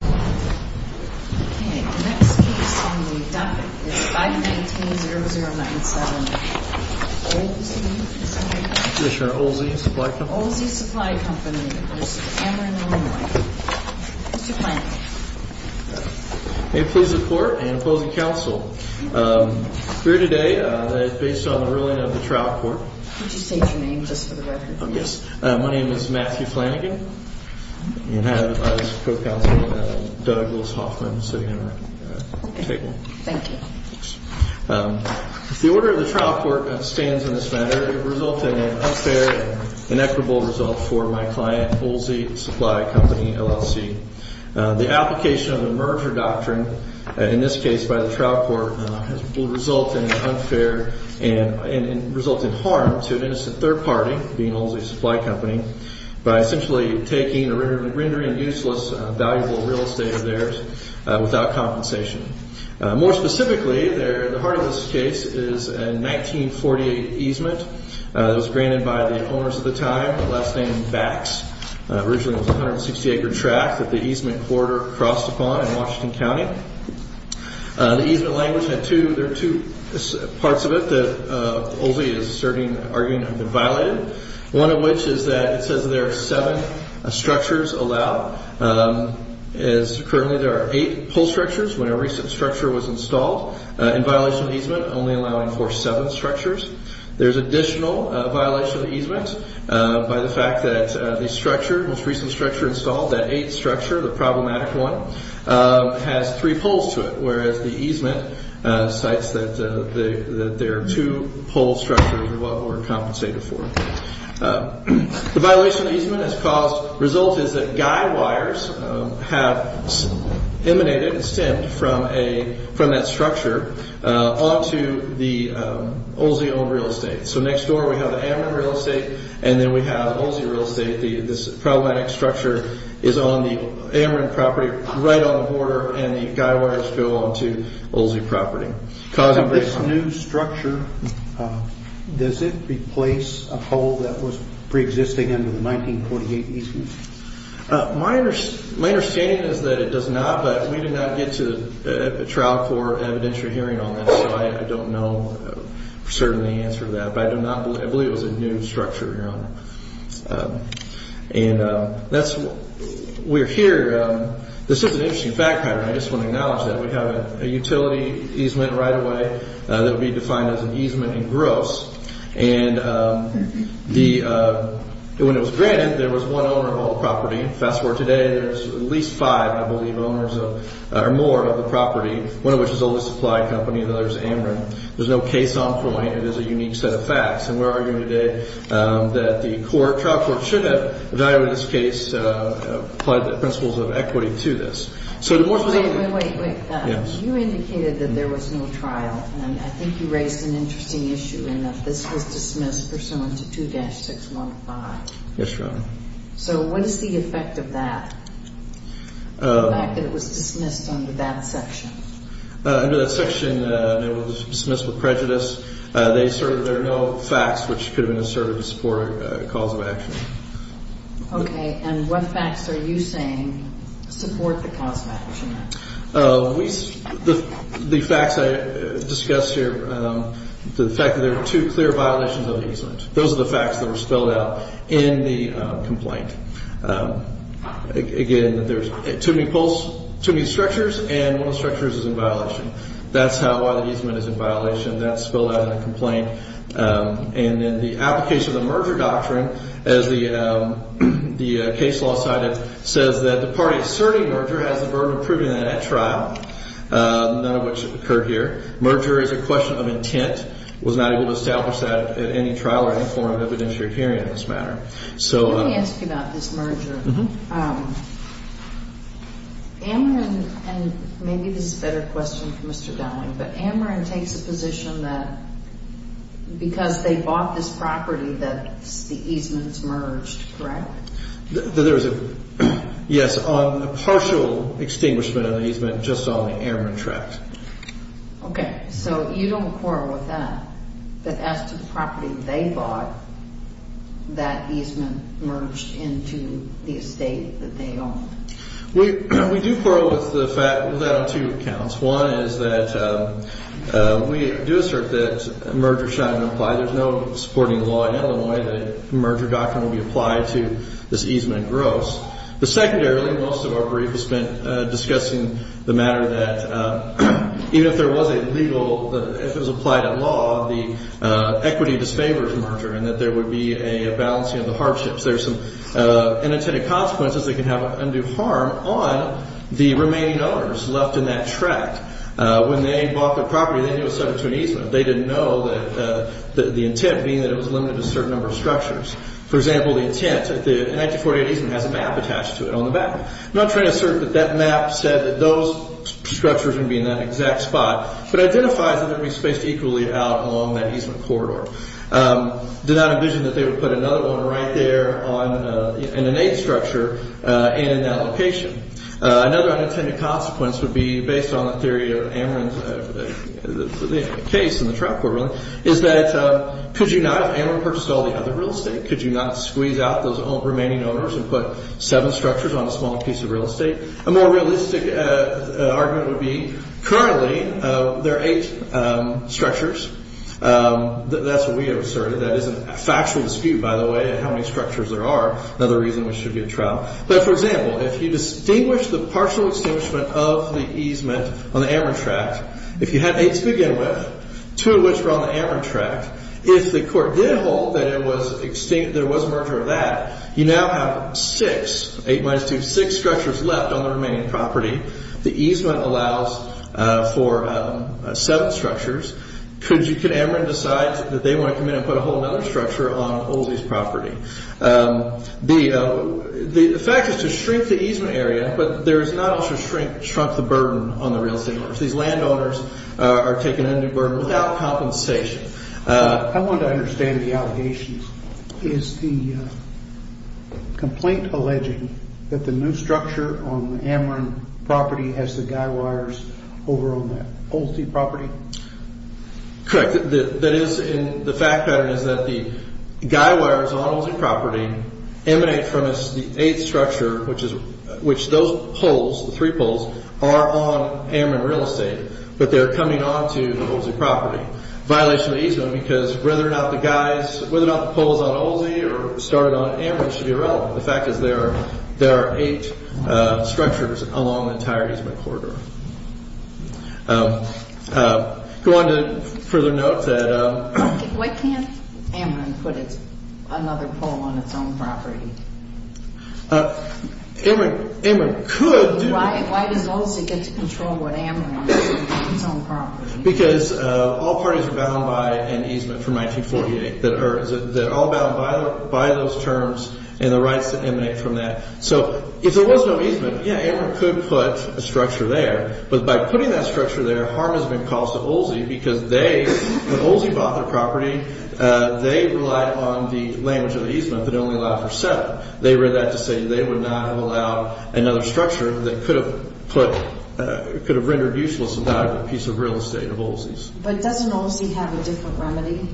Okay, the next case on the docket is 519-0097. Oelze, is that right? Commissioner Oelze, Supply Company. Oelze Supply Company v. Ameren Illinois. Mr. Flanagan. May it please the Court and opposing counsel, here today, based on the ruling of the trial court Could you state your name just for the record, please? Yes, my name is Matthew Flanagan and I have, as co-counsel, Douglas Hoffman sitting at our table. Thank you. The order of the trial court stands in this matter, resulting in unfair and inequitable results for my client, Oelze Supply Company LLC. The application of the merger doctrine, in this case by the trial court, will result in unfair and result in harm to an innocent third party, being Oelze Supply Company, by essentially taking or rendering useless valuable real estate of theirs without compensation. More specifically, the heart of this case is a 1948 easement that was granted by the owners at the time, last name Bax. Originally it was a 160 acre tract that the easement corridor crossed upon in Washington County. The easement language had two, there are two parts of it that Oelze is asserting, arguing have been violated. One of which is that it says there are seven structures allowed. As currently there are eight pole structures, when a recent structure was installed, in violation of easement, only allowing for seven structures. There's additional violation of easement by the fact that the structure, most recent structure installed, that eight structure, the problematic one, has three poles to it. Whereas the easement cites that there are two pole structures that were compensated for. The violation of easement has caused, result is that guy wires have emanated and stemmed from that structure onto the Oelze owned real estate. So next door we have the Ameren real estate, and then we have Oelze real estate. This problematic structure is on the Ameren property, right on the border, and the guy wires go onto Oelze property. This new structure, does it replace a pole that was pre-existing under the 1948 easement? My understanding is that it does not, but we did not get to a trial for evidentiary hearing on this, so I don't know for certain the answer to that. But I do not believe, I believe it was a new structure, your honor. And that's, we're here, this is an interesting fact pattern. I just want to acknowledge that. We have a utility easement right away that will be defined as an easement in gross. And the, when it was granted, there was one owner of all the property. Fast forward today, there's at least five, I believe, owners of, or more of the property. One of which is Oelze Supply Company, the other is Ameren. There's no case on point. It is a unique set of facts. And we're arguing today that the court, trial court, should have evaluated this case, applied the principles of equity to this. Wait, wait, wait. You indicated that there was no trial. And I think you raised an interesting issue in that this was dismissed pursuant to 2-615. Yes, your honor. So what is the effect of that? The fact that it was dismissed under that section. Under that section, it was dismissed with prejudice. They asserted there are no facts which could have been asserted to support a cause of action. Okay. And what facts are you saying support the cause of action? The facts I discussed here, the fact that there are two clear violations of the easement. Those are the facts that were spelled out in the complaint. Again, there's too many structures and one of the structures is in violation. That's how a lot of easement is in violation. That's spelled out in the complaint. And then the application of the merger doctrine, as the case law cited, says that the party asserting merger has the burden of proving that at trial, none of which occurred here. Merger is a question of intent, was not able to establish that at any trial or any form of evidentiary hearing in this matter. Amarin, and maybe this is a better question for Mr. Dowling, but Amarin takes the position that because they bought this property that the easements merged, correct? Yes, on a partial extinguishment of the easement, just on the Amarin tract. Okay. So you don't quarrel with that, that as to the property they bought, that easement merged into the estate that they owned? We do quarrel with that on two accounts. One is that we do assert that merger shall not apply. There's no supporting law in Illinois that a merger doctrine will be applied to this easement gross. The secondary, most of our brief has been discussing the matter that even if there was a legal, if it was applied at law, the equity disfavors merger and that there would be a balancing of the hardships. There's some unintended consequences that can have undue harm on the remaining owners left in that tract. When they bought the property, they knew it was subject to an easement. They didn't know that the intent being that it was limited to a certain number of structures. For example, the intent, the 1948 easement has a map attached to it on the back. I'm not trying to assert that that map said that those structures would be in that exact spot, but identifies that they're going to be spaced equally out along that easement corridor. Did not envision that they would put another one right there on an innate structure and in that location. Another unintended consequence would be based on the theory of Amarin's case in the trial court, really, is that could you not have Amarin purchased all the other real estate? Could you not squeeze out those remaining owners and put seven structures on a small piece of real estate? A more realistic argument would be currently there are eight structures. That's what we have asserted. That is a factual dispute, by the way, how many structures there are. Another reason we should get a trial. For example, if you distinguish the partial extinguishment of the easement on the Amarin tract, if you had eight to begin with, two of which were on the Amarin tract. If the court did hold that there was merger of that, you now have six, eight minus two, six structures left on the remaining property. The easement allows for seven structures. Could Amarin decide that they want to come in and put a whole other structure on Oldsie's property? The fact is to shrink the easement area, but there is not also shrink the burden on the real estate owners. These landowners are taken under burden without compensation. I want to understand the allegations. Is the complaint alleging that the new structure on the Amarin property has the guy wires over on the Oldsie property? Correct. The fact pattern is that the guy wires on Oldsie property emanate from the eighth structure, which those poles, the three poles, are on Amarin real estate. But they're coming onto the Oldsie property. Violation of the easement because whether or not the poles on Oldsie or started on Amarin should be irrelevant. The fact is there are eight structures along the entire easement corridor. Go on to further note that. Why can't Amarin put another pole on its own property? Amarin could. Why does Oldsie get to control what Amarin has on its own property? Because all parties are bound by an easement from 1948 that are all bound by those terms and the rights that emanate from that. So if there was no easement, yeah, Amarin could put a structure there. But by putting that structure there, harm has been caused to Oldsie because they, when Oldsie bought the property, they relied on the language of the easement but only allowed for seven. They read that to say they would not have allowed another structure that could have put, could have rendered useless without a piece of real estate of Oldsie's. But doesn't Oldsie have a different remedy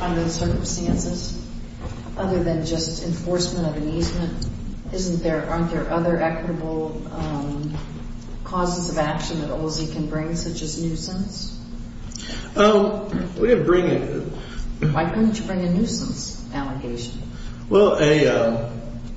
under the circumstances other than just enforcement of an easement? Isn't there, aren't there other equitable causes of action that Oldsie can bring such as nuisance? We didn't bring it. Why couldn't you bring a nuisance allegation? Well,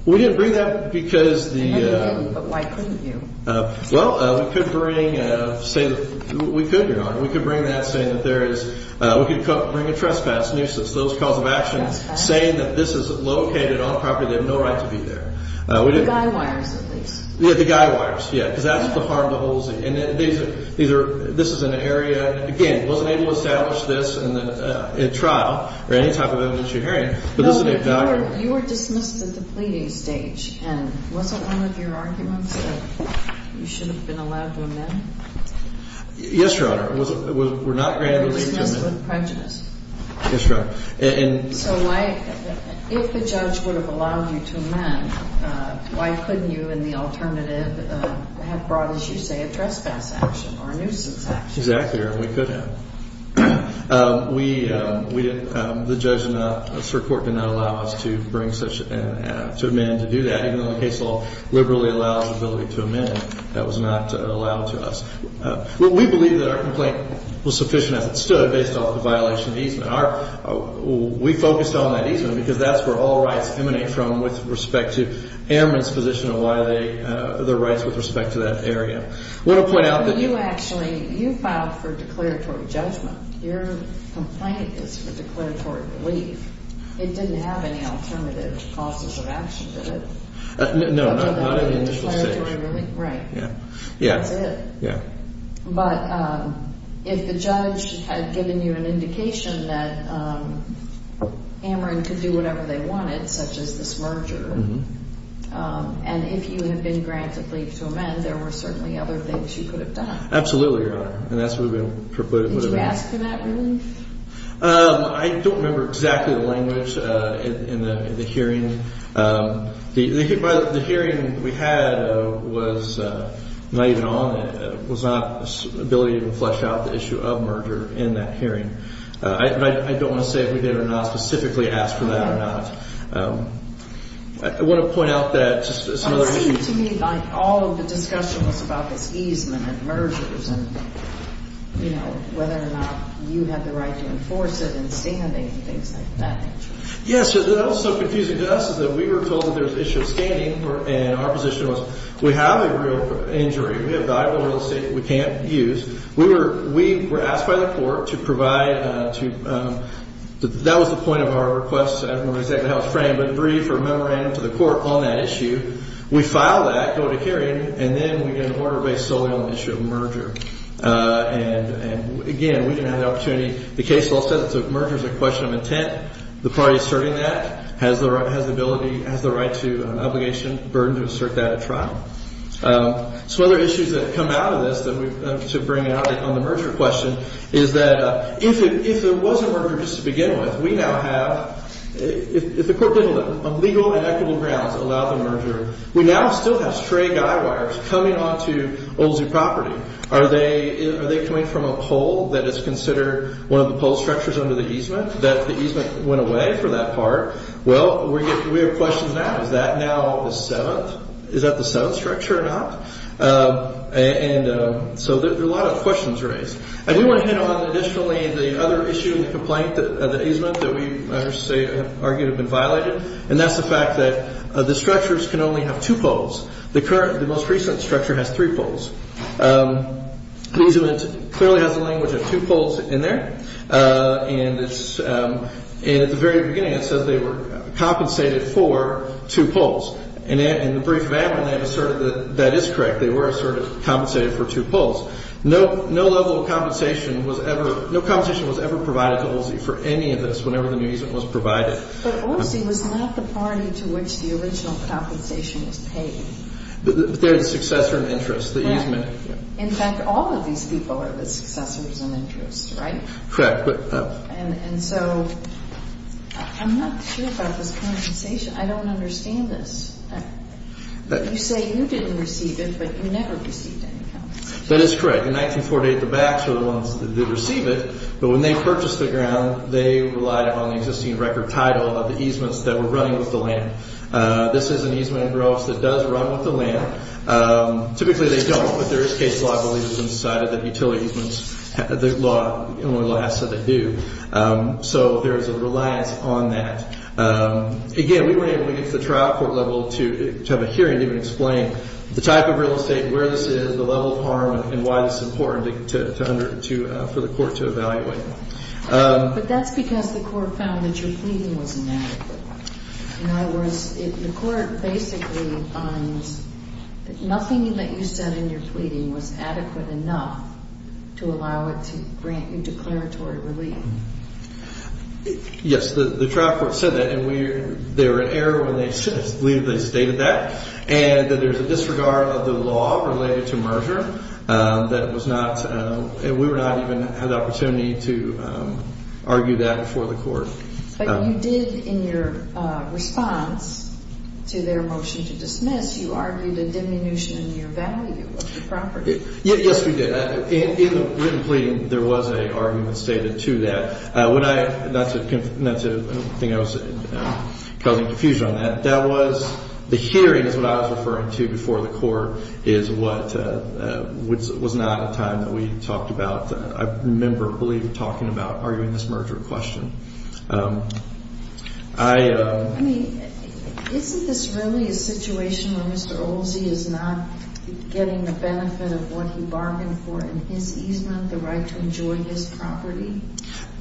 we didn't bring that because the. No, you didn't, but why couldn't you? Well, we could bring, say, we could, Your Honor. We could bring that saying that there is, we could bring a trespass nuisance. Those cause of action saying that this is located on property, they have no right to be there. The guy wires at least. Yeah, the guy wires. Yeah, because that's the harm to Oldsie. And these are, this is an area, again, wasn't able to establish this in trial or any type of evidence you're hearing. You were dismissed at the pleading stage and wasn't one of your arguments that you should have been allowed to amend? Yes, Your Honor. You were dismissed with prejudice. Yes, Your Honor. So why, if the judge would have allowed you to amend, why couldn't you in the alternative have brought, as you say, a trespass action or a nuisance action? Exactly, Your Honor. We could have. We, the judge did not, the Supreme Court did not allow us to bring such, to amend to do that. Even though the case law liberally allows the ability to amend, that was not allowed to us. We believe that our complaint was sufficient as it stood based on the violation of easement. Our, we focused on that easement because that's where all rights emanate from with respect to airmen's position and why they, their rights with respect to that area. You actually, you filed for declaratory judgment. Your complaint is for declaratory relief. It didn't have any alternative causes of action, did it? No, not in the initial stage. Right. Yeah. That's it. Yeah. But if the judge had given you an indication that Ameren could do whatever they wanted, such as the smerger, and if you had been granted leave to amend, there were certainly other things you could have done. Absolutely, Your Honor. And that's what we would have asked for. Did you ask for that relief? I don't remember exactly the language in the hearing. The hearing we had was not even on, was not the ability to flesh out the issue of merger in that hearing. I don't want to say if we did or not specifically ask for that or not. I want to point out that just another issue. It seemed to me like all of the discussion was about this easement and mergers and, you know, whether or not you had the right to enforce it in standing and things like that. Yes. That was so confusing to us is that we were told that there was an issue of standing, and our position was we have a real injury. We have valuable real estate that we can't use. We were asked by the court to provide, to, that was the point of our request. I don't remember exactly how it was framed, but a brief or a memorandum to the court on that issue. We filed that, go to hearing, and then we get an order based solely on the issue of merger. And, again, we didn't have the opportunity. The case law says that merger is a question of intent. The party asserting that has the ability, has the right to obligation, burden to assert that at trial. So one of the issues that come out of this that we, to bring out on the merger question is that if there was a merger just to begin with, we now have, if the court didn't have legal and equitable grounds to allow the merger, we now still have stray guy wires coming onto old zoo property. Are they coming from a pole that is considered one of the pole structures under the easement that the easement went away for that part? Well, we have questions now. Is that now the seventh? Is that the seventh structure or not? And so there are a lot of questions raised. And we want to hit on, additionally, the other issue in the complaint, the easement that we argue have been violated, and that's the fact that the structures can only have two poles. The most recent structure has three poles. The easement clearly has the language of two poles in there, and at the very beginning it says they were compensated for two poles. And in the brief event, that is correct. They were sort of compensated for two poles. No level of compensation was ever provided to OLSI for any of this whenever the new easement was provided. But OLSI was not the party to which the original compensation was paid. They're the successor in interest, the easement. In fact, all of these people are the successors in interest, right? Correct. And so I'm not sure about this compensation. I don't understand this. You say you didn't receive it, but you never received any compensation. That is correct. In 1948, the BACs are the ones that did receive it, but when they purchased the ground, they relied upon the existing record title of the easements that were running with the land. This is an easement in Gross that does run with the land. Typically, they don't, but there is case law that believes it's inside of the utility easements, the law asks that they do. So there is a reliance on that. Again, we weren't able to get to the trial court level to have a hearing to even explain the type of real estate, where this is, the level of harm, and why it's important for the court to evaluate. But that's because the court found that your pleading was inadequate. In other words, the court basically finds that nothing that you said in your pleading was adequate enough to allow it to grant you declaratory relief. Yes, the trial court said that, and they were in error when they stated that, and that there's a disregard of the law related to merger that was not, and we were not even had the opportunity to argue that before the court. But you did in your response to their motion to dismiss, you argued a diminution in your value of the property. Yes, we did. In the written pleading, there was an argument stated to that. That's a thing I was causing confusion on. That was the hearing is what I was referring to before the court is what was not a time that we talked about. I remember, I believe, talking about arguing this merger question. I mean, isn't this really a situation where Mr. Olsey is not getting the benefit of what he bargained for in his easement, the right to enjoy his property?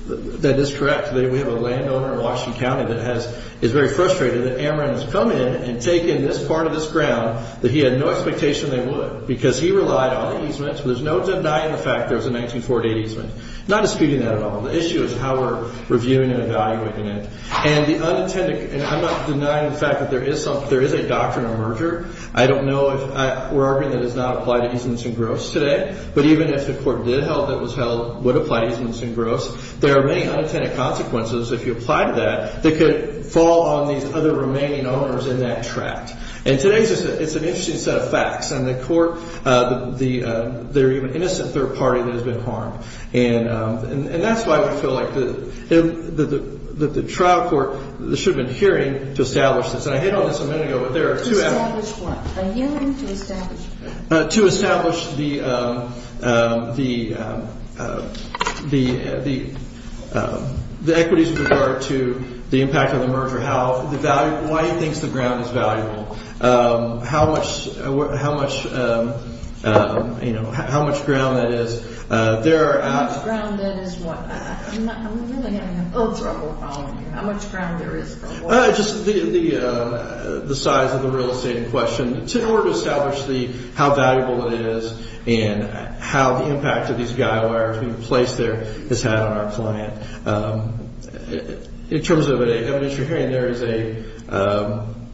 That is correct. We have a landowner in Washington County that is very frustrated that Amaran has come in and taken this part of this ground that he had no expectation they would, because he relied on the easements. There's no denying the fact there was a 1948 easement. Not disputing that at all. The issue is how we're reviewing and evaluating it. And I'm not denying the fact that there is a doctrine of merger. I don't know if we're arguing that it does not apply to easements and gross today. But even if the court did hold that it would apply to easements and gross, there are many unintended consequences, if you apply to that, that could fall on these other remaining owners in that tract. And today it's an interesting set of facts. And the court, they're even innocent third party that has been harmed. And that's why we feel like the trial court should have been hearing to establish this. And I hit on this a minute ago. Establish what? A hearing to establish what? To establish the equities with regard to the impact of the merger. Why he thinks the ground is valuable. How much, you know, how much ground that is. How much ground that is what? I'm really having a little trouble with all of you. How much ground there is? Just the size of the real estate in question. In order to establish how valuable it is and how the impact of these guy wires being placed there has had on our client. In terms of an evidentiary hearing, there is a,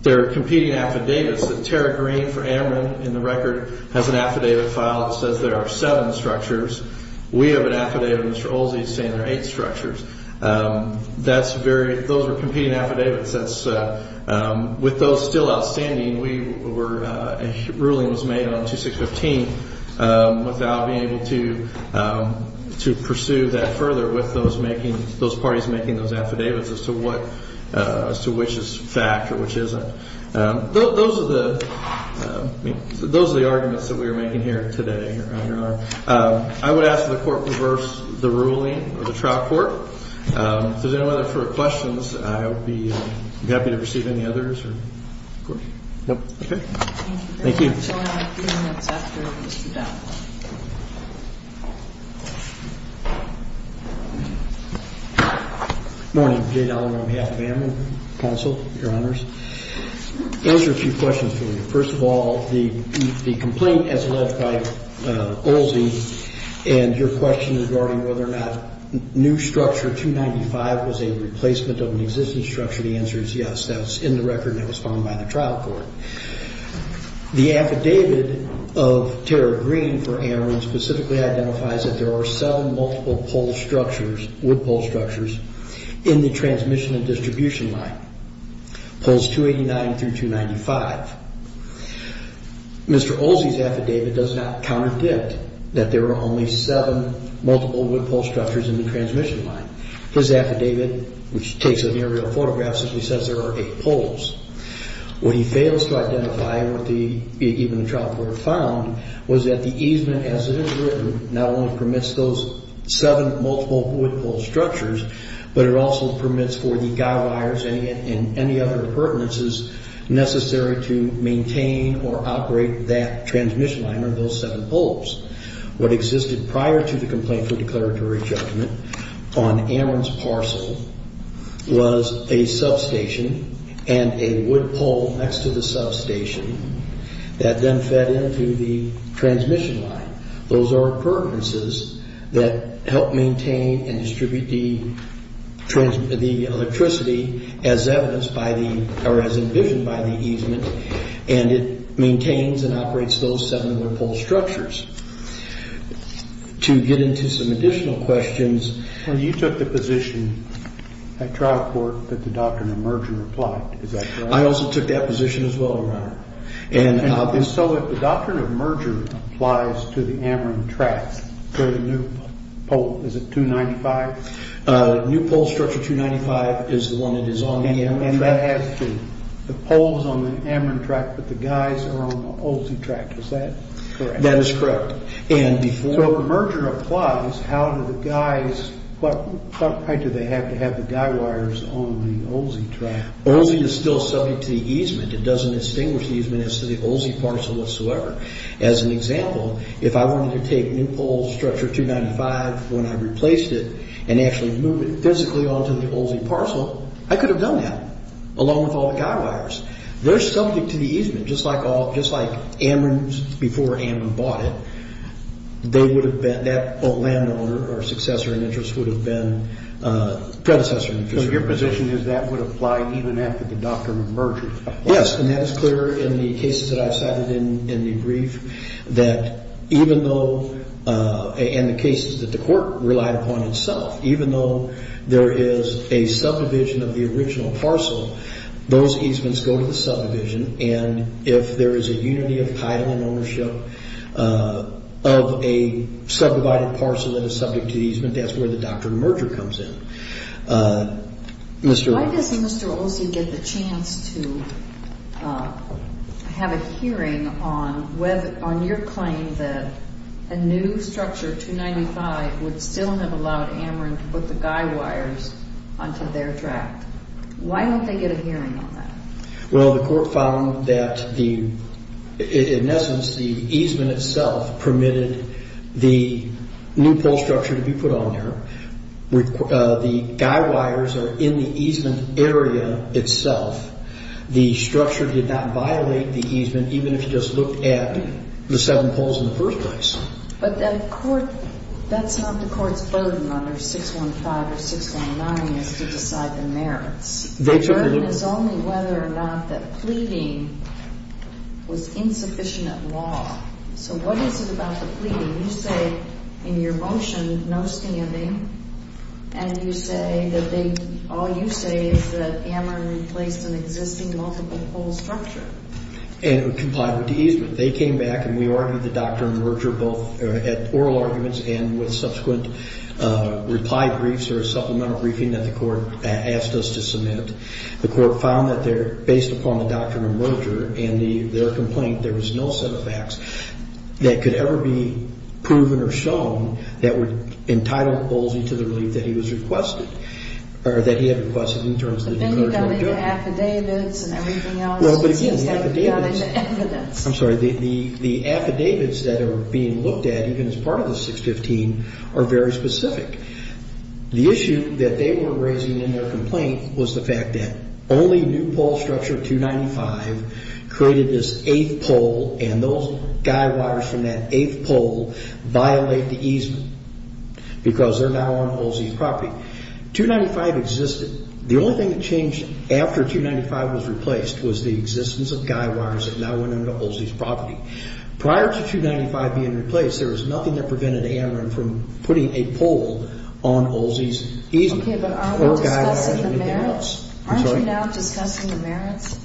there are competing affidavits. Tara Green for Amron in the record has an affidavit file that says there are seven structures. We have an affidavit of Mr. Olsey saying there are eight structures. That's very, those are competing affidavits. With those still outstanding, we were, a ruling was made on 2615 without being able to pursue that further with those parties making those affidavits as to what, as to which is fact or which isn't. Those are the arguments that we are making here today. I would ask that the court reverse the ruling of the trial court. If there's any further questions, I would be happy to receive any others. Thank you. Morning, Jay Dollar on behalf of Amron counsel, your honors. Those are a few questions for you. First of all, the complaint as led by Olsey and your question regarding whether or not new structure 295 was a replacement of an existing structure. The answer is yes. That's in the record that was found by the trial court. The affidavit of Tara Green for Amron specifically identifies that there are seven multiple pole structures, wood pole structures in the transmission and distribution line, poles 289 through 295. Mr. Olsey's affidavit does not contradict that there are only seven multiple wood pole structures in the transmission line. His affidavit, which takes an aerial photograph, simply says there are eight poles. What he fails to identify, even the trial court found, was that the easement as it is written not only permits those seven multiple wood pole structures, but it also permits for the guy wires and any other pertinences necessary to maintain or operate that transmission line or those seven poles. What existed prior to the complaint for declaratory judgment on Amron's parcel was a substation and a wood pole next to the substation that then fed into the transmission line. Those are pertinences that help maintain and distribute the electricity as envisioned by the easement, and it maintains and operates those seven wood pole structures. To get into some additional questions... And you took the position at trial court that the doctrine of merger applied. Is that correct? I also took that position as well, Your Honor. So if the doctrine of merger applies to the Amron tracks for the new pole, is it 295? New pole structure 295 is the one that is on the Amron track. And that has to... the pole is on the Amron track, but the guys are on the Olsey track. Is that correct? That is correct. So if the merger applies, how do the guys... how do they have to have the guy wires on the Olsey track? Olsey is still subject to the easement. It doesn't distinguish the easement as to the Olsey parcel whatsoever. As an example, if I wanted to take new pole structure 295 when I replaced it and actually move it physically onto the Olsey parcel, I could have done that, along with all the guy wires. They're subject to the easement, just like Amron's before Amron bought it. They would have been... that landowner or successor in interest would have been predecessor... So your position is that would apply even after the doctrine of merger? Yes, and that is clear in the cases that I've cited in the brief that even though... and the cases that the court relied upon itself, even though there is a subdivision of the original parcel, those easements go to the subdivision. And if there is a unity of title and ownership of a subdivided parcel that is subject to the easement, that's where the doctrine of merger comes in. Why does Mr. Olsey get the chance to have a hearing on your claim that a new structure 295 would still have allowed Amron to put the guy wires onto their track? Why don't they get a hearing on that? Well, the court found that, in essence, the easement itself permitted the new pole structure to be put on there. The guy wires are in the easement area itself. The structure did not violate the easement, even if you just looked at the seven poles in the first place. But that's not the court's burden under 615 or 619 is to decide the merits. The burden is only whether or not the pleading was insufficient law. So what is it about the pleading? You say in your motion, no standing, and you say that they all you say is that Amron replaced an existing multiple pole structure. And it would comply with the easement. They came back, and we argued the doctrine of merger both at oral arguments and with subsequent reply briefs or a supplemental briefing that the court asked us to submit. The court found that based upon the doctrine of merger and their complaint, there was no set of facts that could ever be proven or shown that would entitle Olsey to the relief that he was requested, or that he had requested in terms of the doctrine of merger. But then you've got to have affidavits and everything else. Well, but the affidavits. It seems like you've got to have evidence. I'm sorry. The affidavits that are being looked at, even as part of the 615, are very specific. The issue that they were raising in their complaint was the fact that only new pole structure 295 created this eighth pole, and those guy wires from that eighth pole violate the easement because they're now on Olsey's property. 295 existed. The only thing that changed after 295 was replaced was the existence of guy wires that now went into Olsey's property. Prior to 295 being replaced, there was nothing that prevented Amron from putting a pole on Olsey's easement. Okay, but are we discussing the merits? Aren't you now discussing the merits?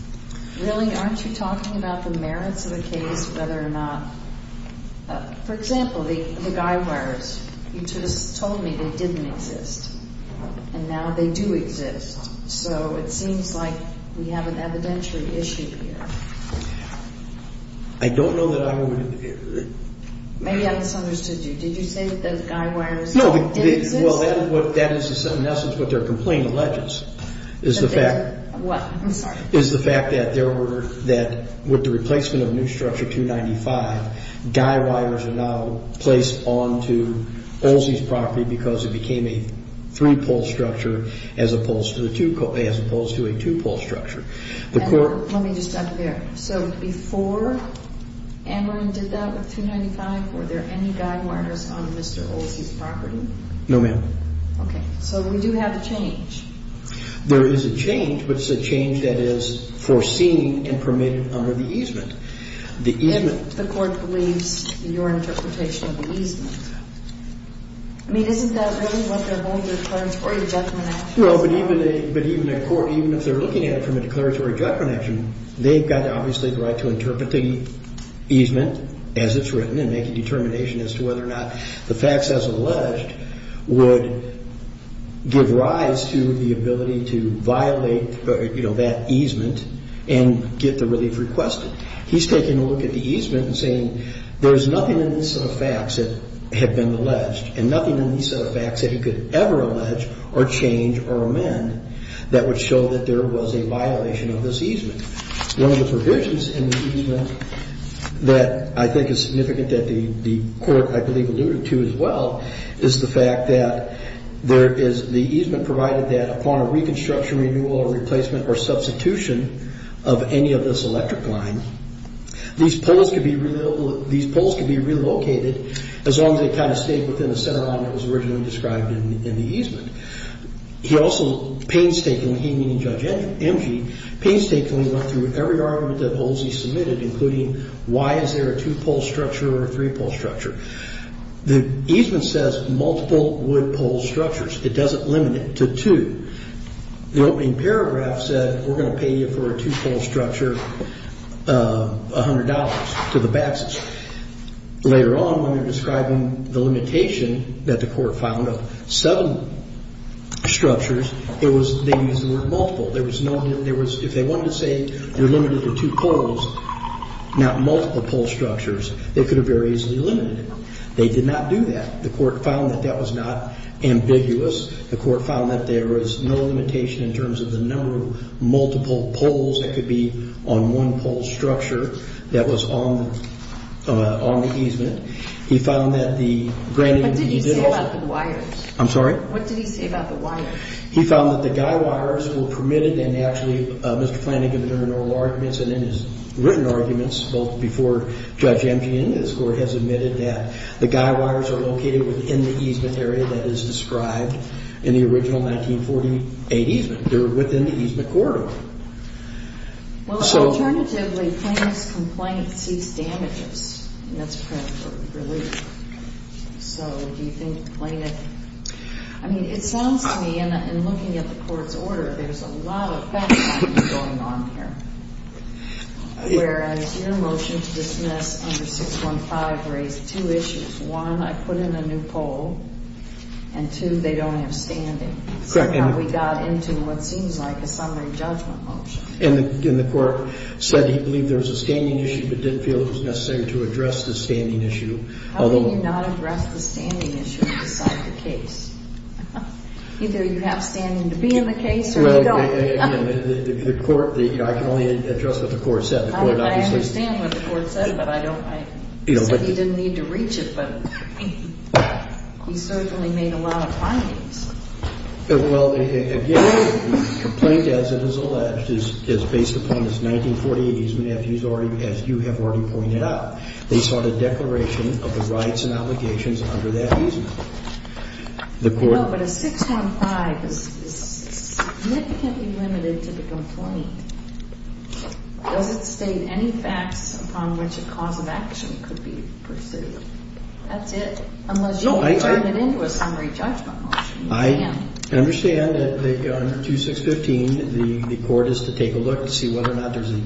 Really, aren't you talking about the merits of the case, whether or not, for example, the guy wires? You just told me they didn't exist, and now they do exist. So it seems like we have an evidentiary issue here. I don't know that I would. Maybe I misunderstood you. Did you say that those guy wires didn't exist? Well, that is in essence what their complaint alleges, is the fact that there were, that with the replacement of new structure 295, guy wires are now placed onto Olsey's property because it became a three-pole structure as opposed to a two-pole structure. Let me just add to that. So before Amron did that with 295, were there any guy wires on Mr. Olsey's property? No, ma'am. Okay. So we do have a change. There is a change, but it's a change that is foreseen and permitted under the easement. The easement. If the court believes your interpretation of the easement. I mean, isn't that really what they're going to declare a declaratory judgment action? No, but even a court, even if they're looking at it from a declaratory judgment action, they've got obviously the right to interpret the easement as it's written and make a determination as to whether or not the facts as alleged would give rise to the ability to violate that easement and get the relief requested. He's taking a look at the easement and saying there's nothing in this set of facts that had been alleged and nothing in this set of facts that he could ever allege or change or amend that would show that there was a violation of this easement. One of the provisions in the easement that I think is significant that the court, I believe, alluded to as well, is the fact that the easement provided that upon a reconstruction, renewal, or replacement or substitution of any of this electric line, these poles could be relocated as long as they kind of stayed within the center line that was originally described in the easement. He also painstakingly, he meaning Judge Emge, painstakingly went through every argument that Olsey submitted, including why is there a two-pole structure or a three-pole structure. The easement says multiple wood pole structures. It doesn't limit it to two. The opening paragraph said we're going to pay you for a two-pole structure $100 to the backs. Later on, when they're describing the limitation that the court found of seven structures, they used the word multiple. If they wanted to say you're limited to two poles, not multiple pole structures, they could have very easily limited it. They did not do that. The court found that that was not ambiguous. The court found that there was no limitation in terms of the number of multiple poles that could be on one pole structure that was on the easement. He found that the granted that he did also. What did he say about the wires? I'm sorry? What did he say about the wires? He found that the guy wires were permitted, and actually Mr. Flanagan, in his written arguments, both before Judge M.G. and this court, has admitted that the guy wires are located within the easement area that is described in the original 1948 easement. They're within the easement corridor. Well, alternatively, Flanagan's complaint sees damages, and that's print for relief. So do you think Flanagan, I mean, it sounds to me, and looking at the court's order, there's a lot of bad things going on here. Whereas your motion to dismiss under 615 raised two issues. One, I put in a new pole, and two, they don't have standing. Correct. So now we got into what seems like a summary judgment motion. And the court said he believed there was a standing issue but didn't feel it was necessary to address the standing issue. How can you not address the standing issue to decide the case? Either you have standing to be in the case or you don't. I can only address what the court said. I understand what the court said, but I don't think he didn't need to reach it. But he certainly made a lot of findings. Well, again, the complaint, as it is alleged, is based upon this 1948 easement as you have already pointed out. They sought a declaration of the rights and obligations under that easement. But a 615 is significantly limited to the complaint. Does it state any facts upon which a cause of action could be pursued? That's it, unless you turn it into a summary judgment motion. I understand that under 2615 the court is to take a look to see whether or not there's a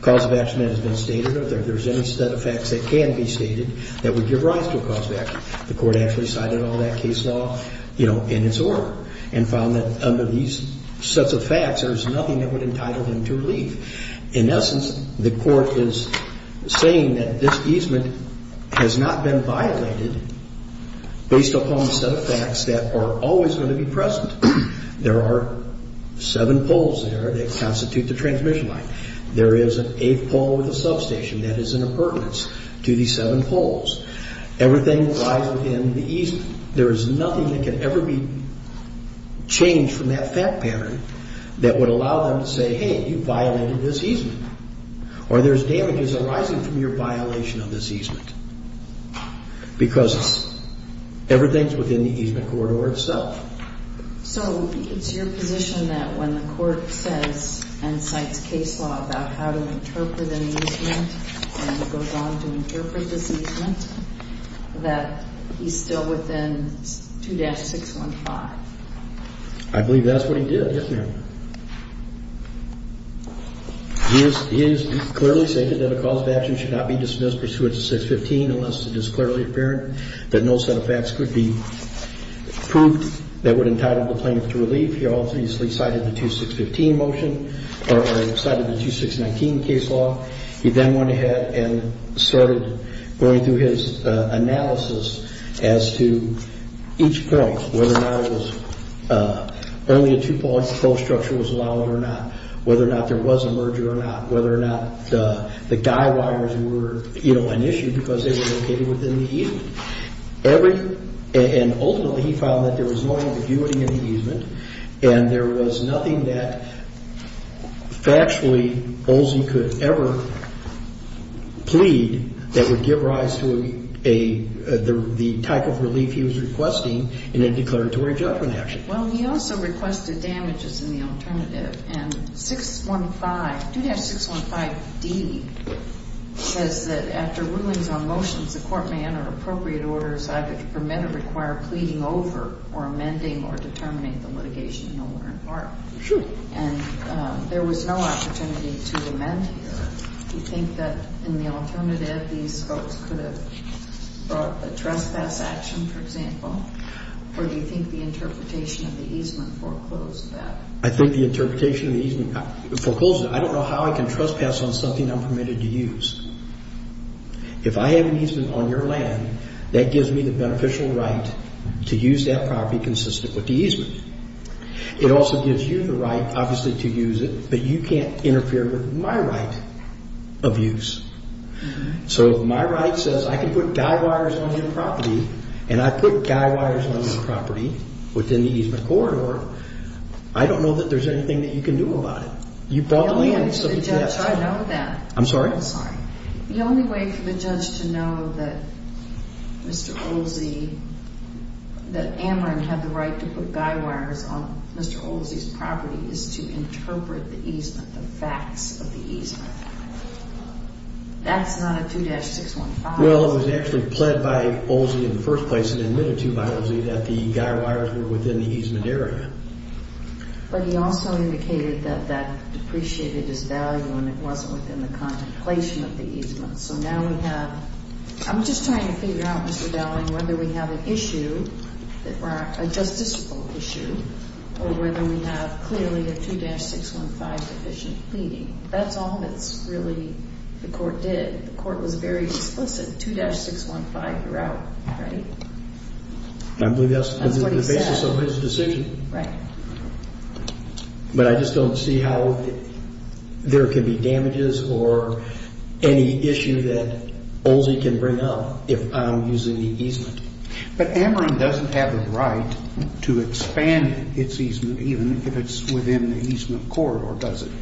cause of action that has been stated or if there's any set of facts that can be stated that would give rise to a cause of action. The court actually cited all that case law in its order and found that under these sets of facts there's nothing that would entitle him to relief. In essence, the court is saying that this easement has not been violated based upon the set of facts that are always going to be present. There are seven poles there that constitute the transmission line. There is an eighth pole with a substation that is in appurtenance to these seven poles. Everything lies within the easement. There is nothing that can ever be changed from that fact pattern that would allow them to say, hey, you violated this easement. Or there's damages arising from your violation of this easement because everything's within the easement corridor itself. So it's your position that when the court says and cites case law about how to interpret an easement and it goes on to interpret this easement that he's still within 2-615? I believe that's what he did, yes, ma'am. He has clearly stated that a cause of action should not be dismissed pursuant to 615 unless it is clearly apparent that no set of facts could be proved that would entitle the plaintiff to relief. He also cited the 2-615 motion or cited the 2-619 case law. He then went ahead and started going through his analysis as to each point, whether or not it was only a two-pole structure was allowed or not, whether or not there was a merger or not, whether or not the guy wires were an issue because they were located within the easement. And ultimately he found that there was no ambiguity in the easement and there was nothing that factually Olson could ever plead that would give rise to the type of relief he was requesting in a declaratory judgment action. Well, he also requested damages in the alternative. And 615, 2-615d says that after rulings on motions, the court may enter appropriate orders either to permit or require pleading over or amending or determining the litigation in order in part. Sure. And there was no opportunity to amend here. Do you think that in the alternative, these folks could have brought a trespass action, for example? Or do you think the interpretation of the easement foreclosed that? I think the interpretation of the easement foreclosed that. I don't know how I can trespass on something I'm permitted to use. If I have an easement on your land, that gives me the beneficial right to use that property consistent with the easement. It also gives you the right, obviously, to use it, but you can't interfere with my right of use. So if my right says I can put guy wires on your property and I put guy wires on your property within the easement corridor, I don't know that there's anything that you can do about it. The only way for the judge to know that Mr. Olsey, that Amron had the right to put guy wires on Mr. Olsey's property is to interpret the easement, the facts of the easement. That's not a 2-615. Well, it was actually pled by Olsey in the first place and admitted to by Olsey that the guy wires were within the easement area. But he also indicated that that depreciated his value and it wasn't within the contemplation of the easement. So now we have—I'm just trying to figure out, Mr. Dowling, whether we have an issue, a justiciable issue, or whether we have clearly a 2-615 deficient pleading. That's all that's really—the court did. It's a 2-615 route, right? I believe that's the basis of his decision. Right. But I just don't see how there could be damages or any issue that Olsey can bring up if I'm using the easement. But Amron doesn't have the right to expand its easement even if it's within the easement corridor, does it?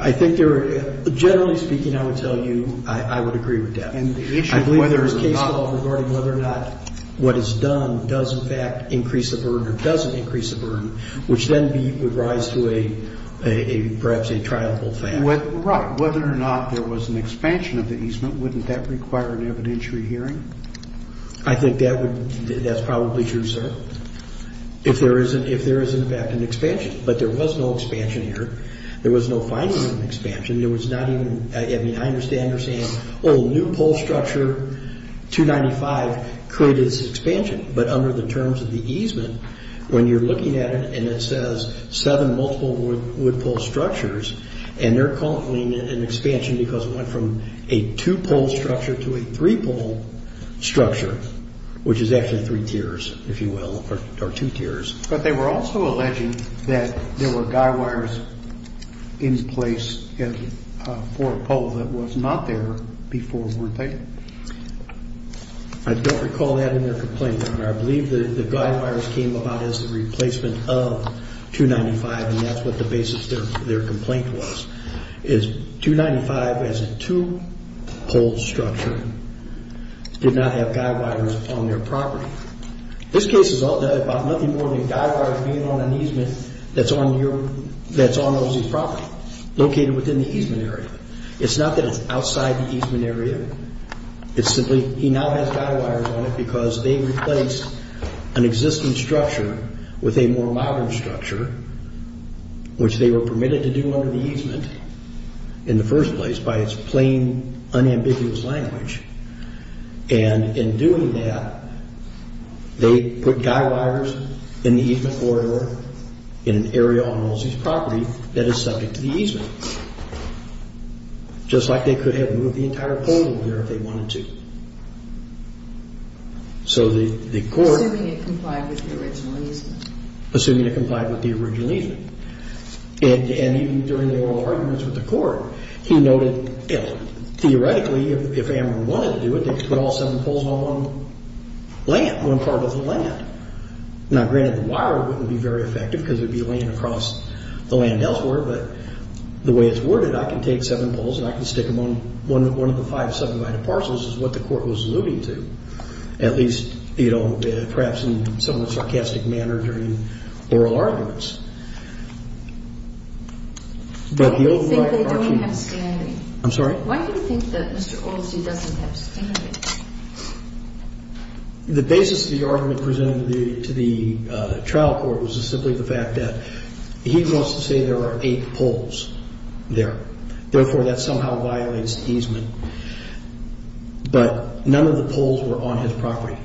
I think there are—generally speaking, I would tell you I would agree with that. And the issue of whether or not— I believe there's case law regarding whether or not what is done does, in fact, increase the burden or doesn't increase the burden, which then would rise to a, perhaps, a triable fact. Right. Whether or not there was an expansion of the easement, wouldn't that require an evidentiary hearing? I think that would—that's probably true, sir, if there is, in fact, an expansion. But there was no expansion here. There was no final expansion. There was not even—I mean, I understand you're saying, oh, a new pole structure, 295, created this expansion. But under the terms of the easement, when you're looking at it and it says seven multiple wood pole structures, and they're calling it an expansion because it went from a two-pole structure to a three-pole structure, which is actually three tiers, if you will, or two tiers. But they were also alleging that there were guy wires in place for a pole that was not there before, weren't they? I don't recall that in their complaint, but I believe the guy wires came about as the replacement of 295, and that's what the basis of their complaint was, is 295 as a two-pole structure did not have guy wires on their property. This case is all about nothing more than guy wires being on an easement that's on OSE's property, located within the easement area. It's not that it's outside the easement area. It's simply he now has guy wires on it because they replaced an existing structure with a more modern structure, which they were permitted to do under the easement in the first place by its plain, unambiguous language. And in doing that, they put guy wires in the easement corridor in an area on OSE's property that is subject to the easement, just like they could have moved the entire pole over there if they wanted to. So the court... Assuming it complied with the original easement. Assuming it complied with the original easement. And even during the oral arguments with the court, he noted, theoretically, if Amron wanted to do it, they could put all seven poles on one land, one part of the land. Now, granted, the wire wouldn't be very effective because it would be laying across the land elsewhere, but the way it's worded, I can take seven poles and I can stick them on one of the five subdivided parcels is what the court was alluding to, at least, you know, perhaps in some of the sarcastic manner during oral arguments. Why do you think they don't have standing? I'm sorry? Why do you think that Mr. Olsey doesn't have standing? The basis of the argument presented to the trial court was simply the fact that he wants to say there are eight poles there. Therefore, that somehow violates the easement. But none of the poles were on his property.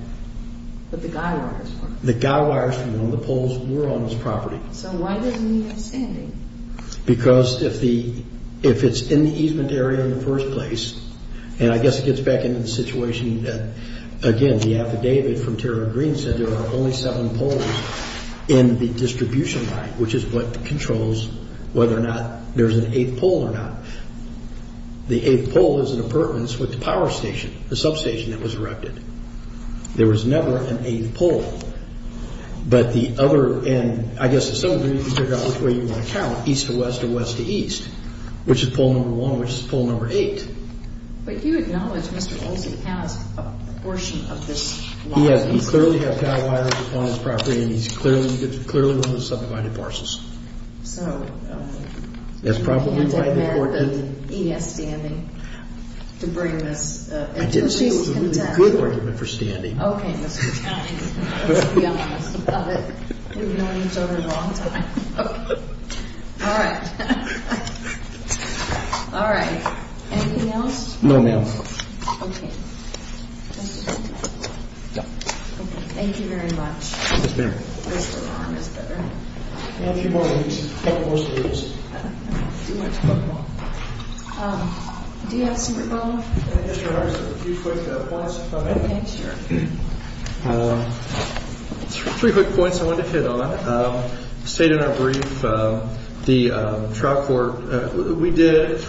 But the guy wires were. The guy wires were. None of the poles were on his property. So why doesn't he have standing? Because if it's in the easement area in the first place, and I guess it gets back into the situation that, again, the affidavit from Terry Green said there are only seven poles in the distribution line, which is what controls whether or not there's an eighth pole or not. The eighth pole is in appurtenance with the power station, the substation that was erected. There was never an eighth pole. But the other end, I guess to some degree, you figure out which way you want to count, east to west or west to east, which is pole number one, which is pole number eight. But you acknowledge Mr. Olsey has a portion of this law. He clearly has guy wires on his property, and he's clearly one of the subdivided parcels. So you can't amend the E.S. standing to bring this into the case of contempt? I didn't say it was a really good argument for standing. Okay, Mr. Kelly. Let's be honest about it. We've known each other a long time. Okay. All right. All right. Anything else? No, ma'am. Okay. Okay. Thank you very much. Yes, ma'am. Mr. Long is there. We have a few more minutes. A couple more speakers. Too much football. Do you have some football? Yes, Your Honor. Just a few quick points if I may. Sure. Three quick points I wanted to hit on. I stated in our brief, the trial court, we did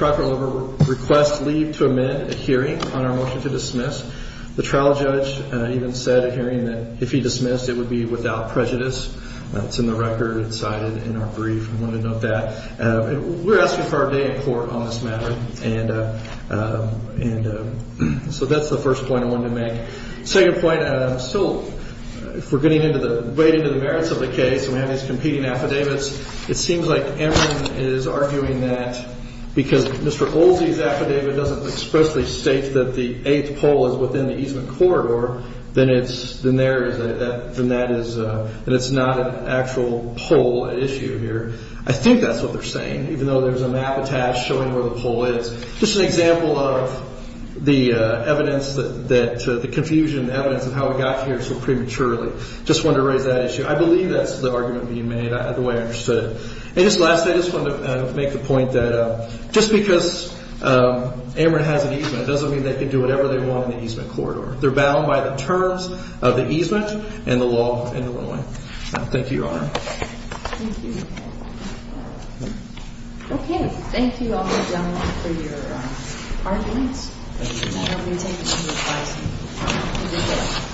request leave to amend a hearing on our motion to dismiss. The trial judge even said at hearing that if he dismissed, it would be without prejudice. It's in the record. It's cited in our brief. I wanted to note that. We're asking for a day in court on this matter. So that's the first point I wanted to make. Second point, if we're getting right into the merits of the case and we have these competing affidavits, it seems like everyone is arguing that because Mr. Olsey's affidavit doesn't expressly state that the eighth pole is within the easement corridor, then it's not an actual pole issue here. I think that's what they're saying. Even though there's a map attached showing where the pole is. Just an example of the evidence, the confusion and evidence of how we got here so prematurely. Just wanted to raise that issue. I believe that's the argument being made, the way I understood it. And just lastly, I just wanted to make the point that just because Amarant has an easement, it doesn't mean they can do whatever they want in the easement corridor. They're bound by the terms of the easement and the law and the ruling. Thank you, Your Honor. Thank you. Okay. Thank you all, ladies and gentlemen, for your arguments. Thank you. And I don't need to take any more advice from you. Thank you.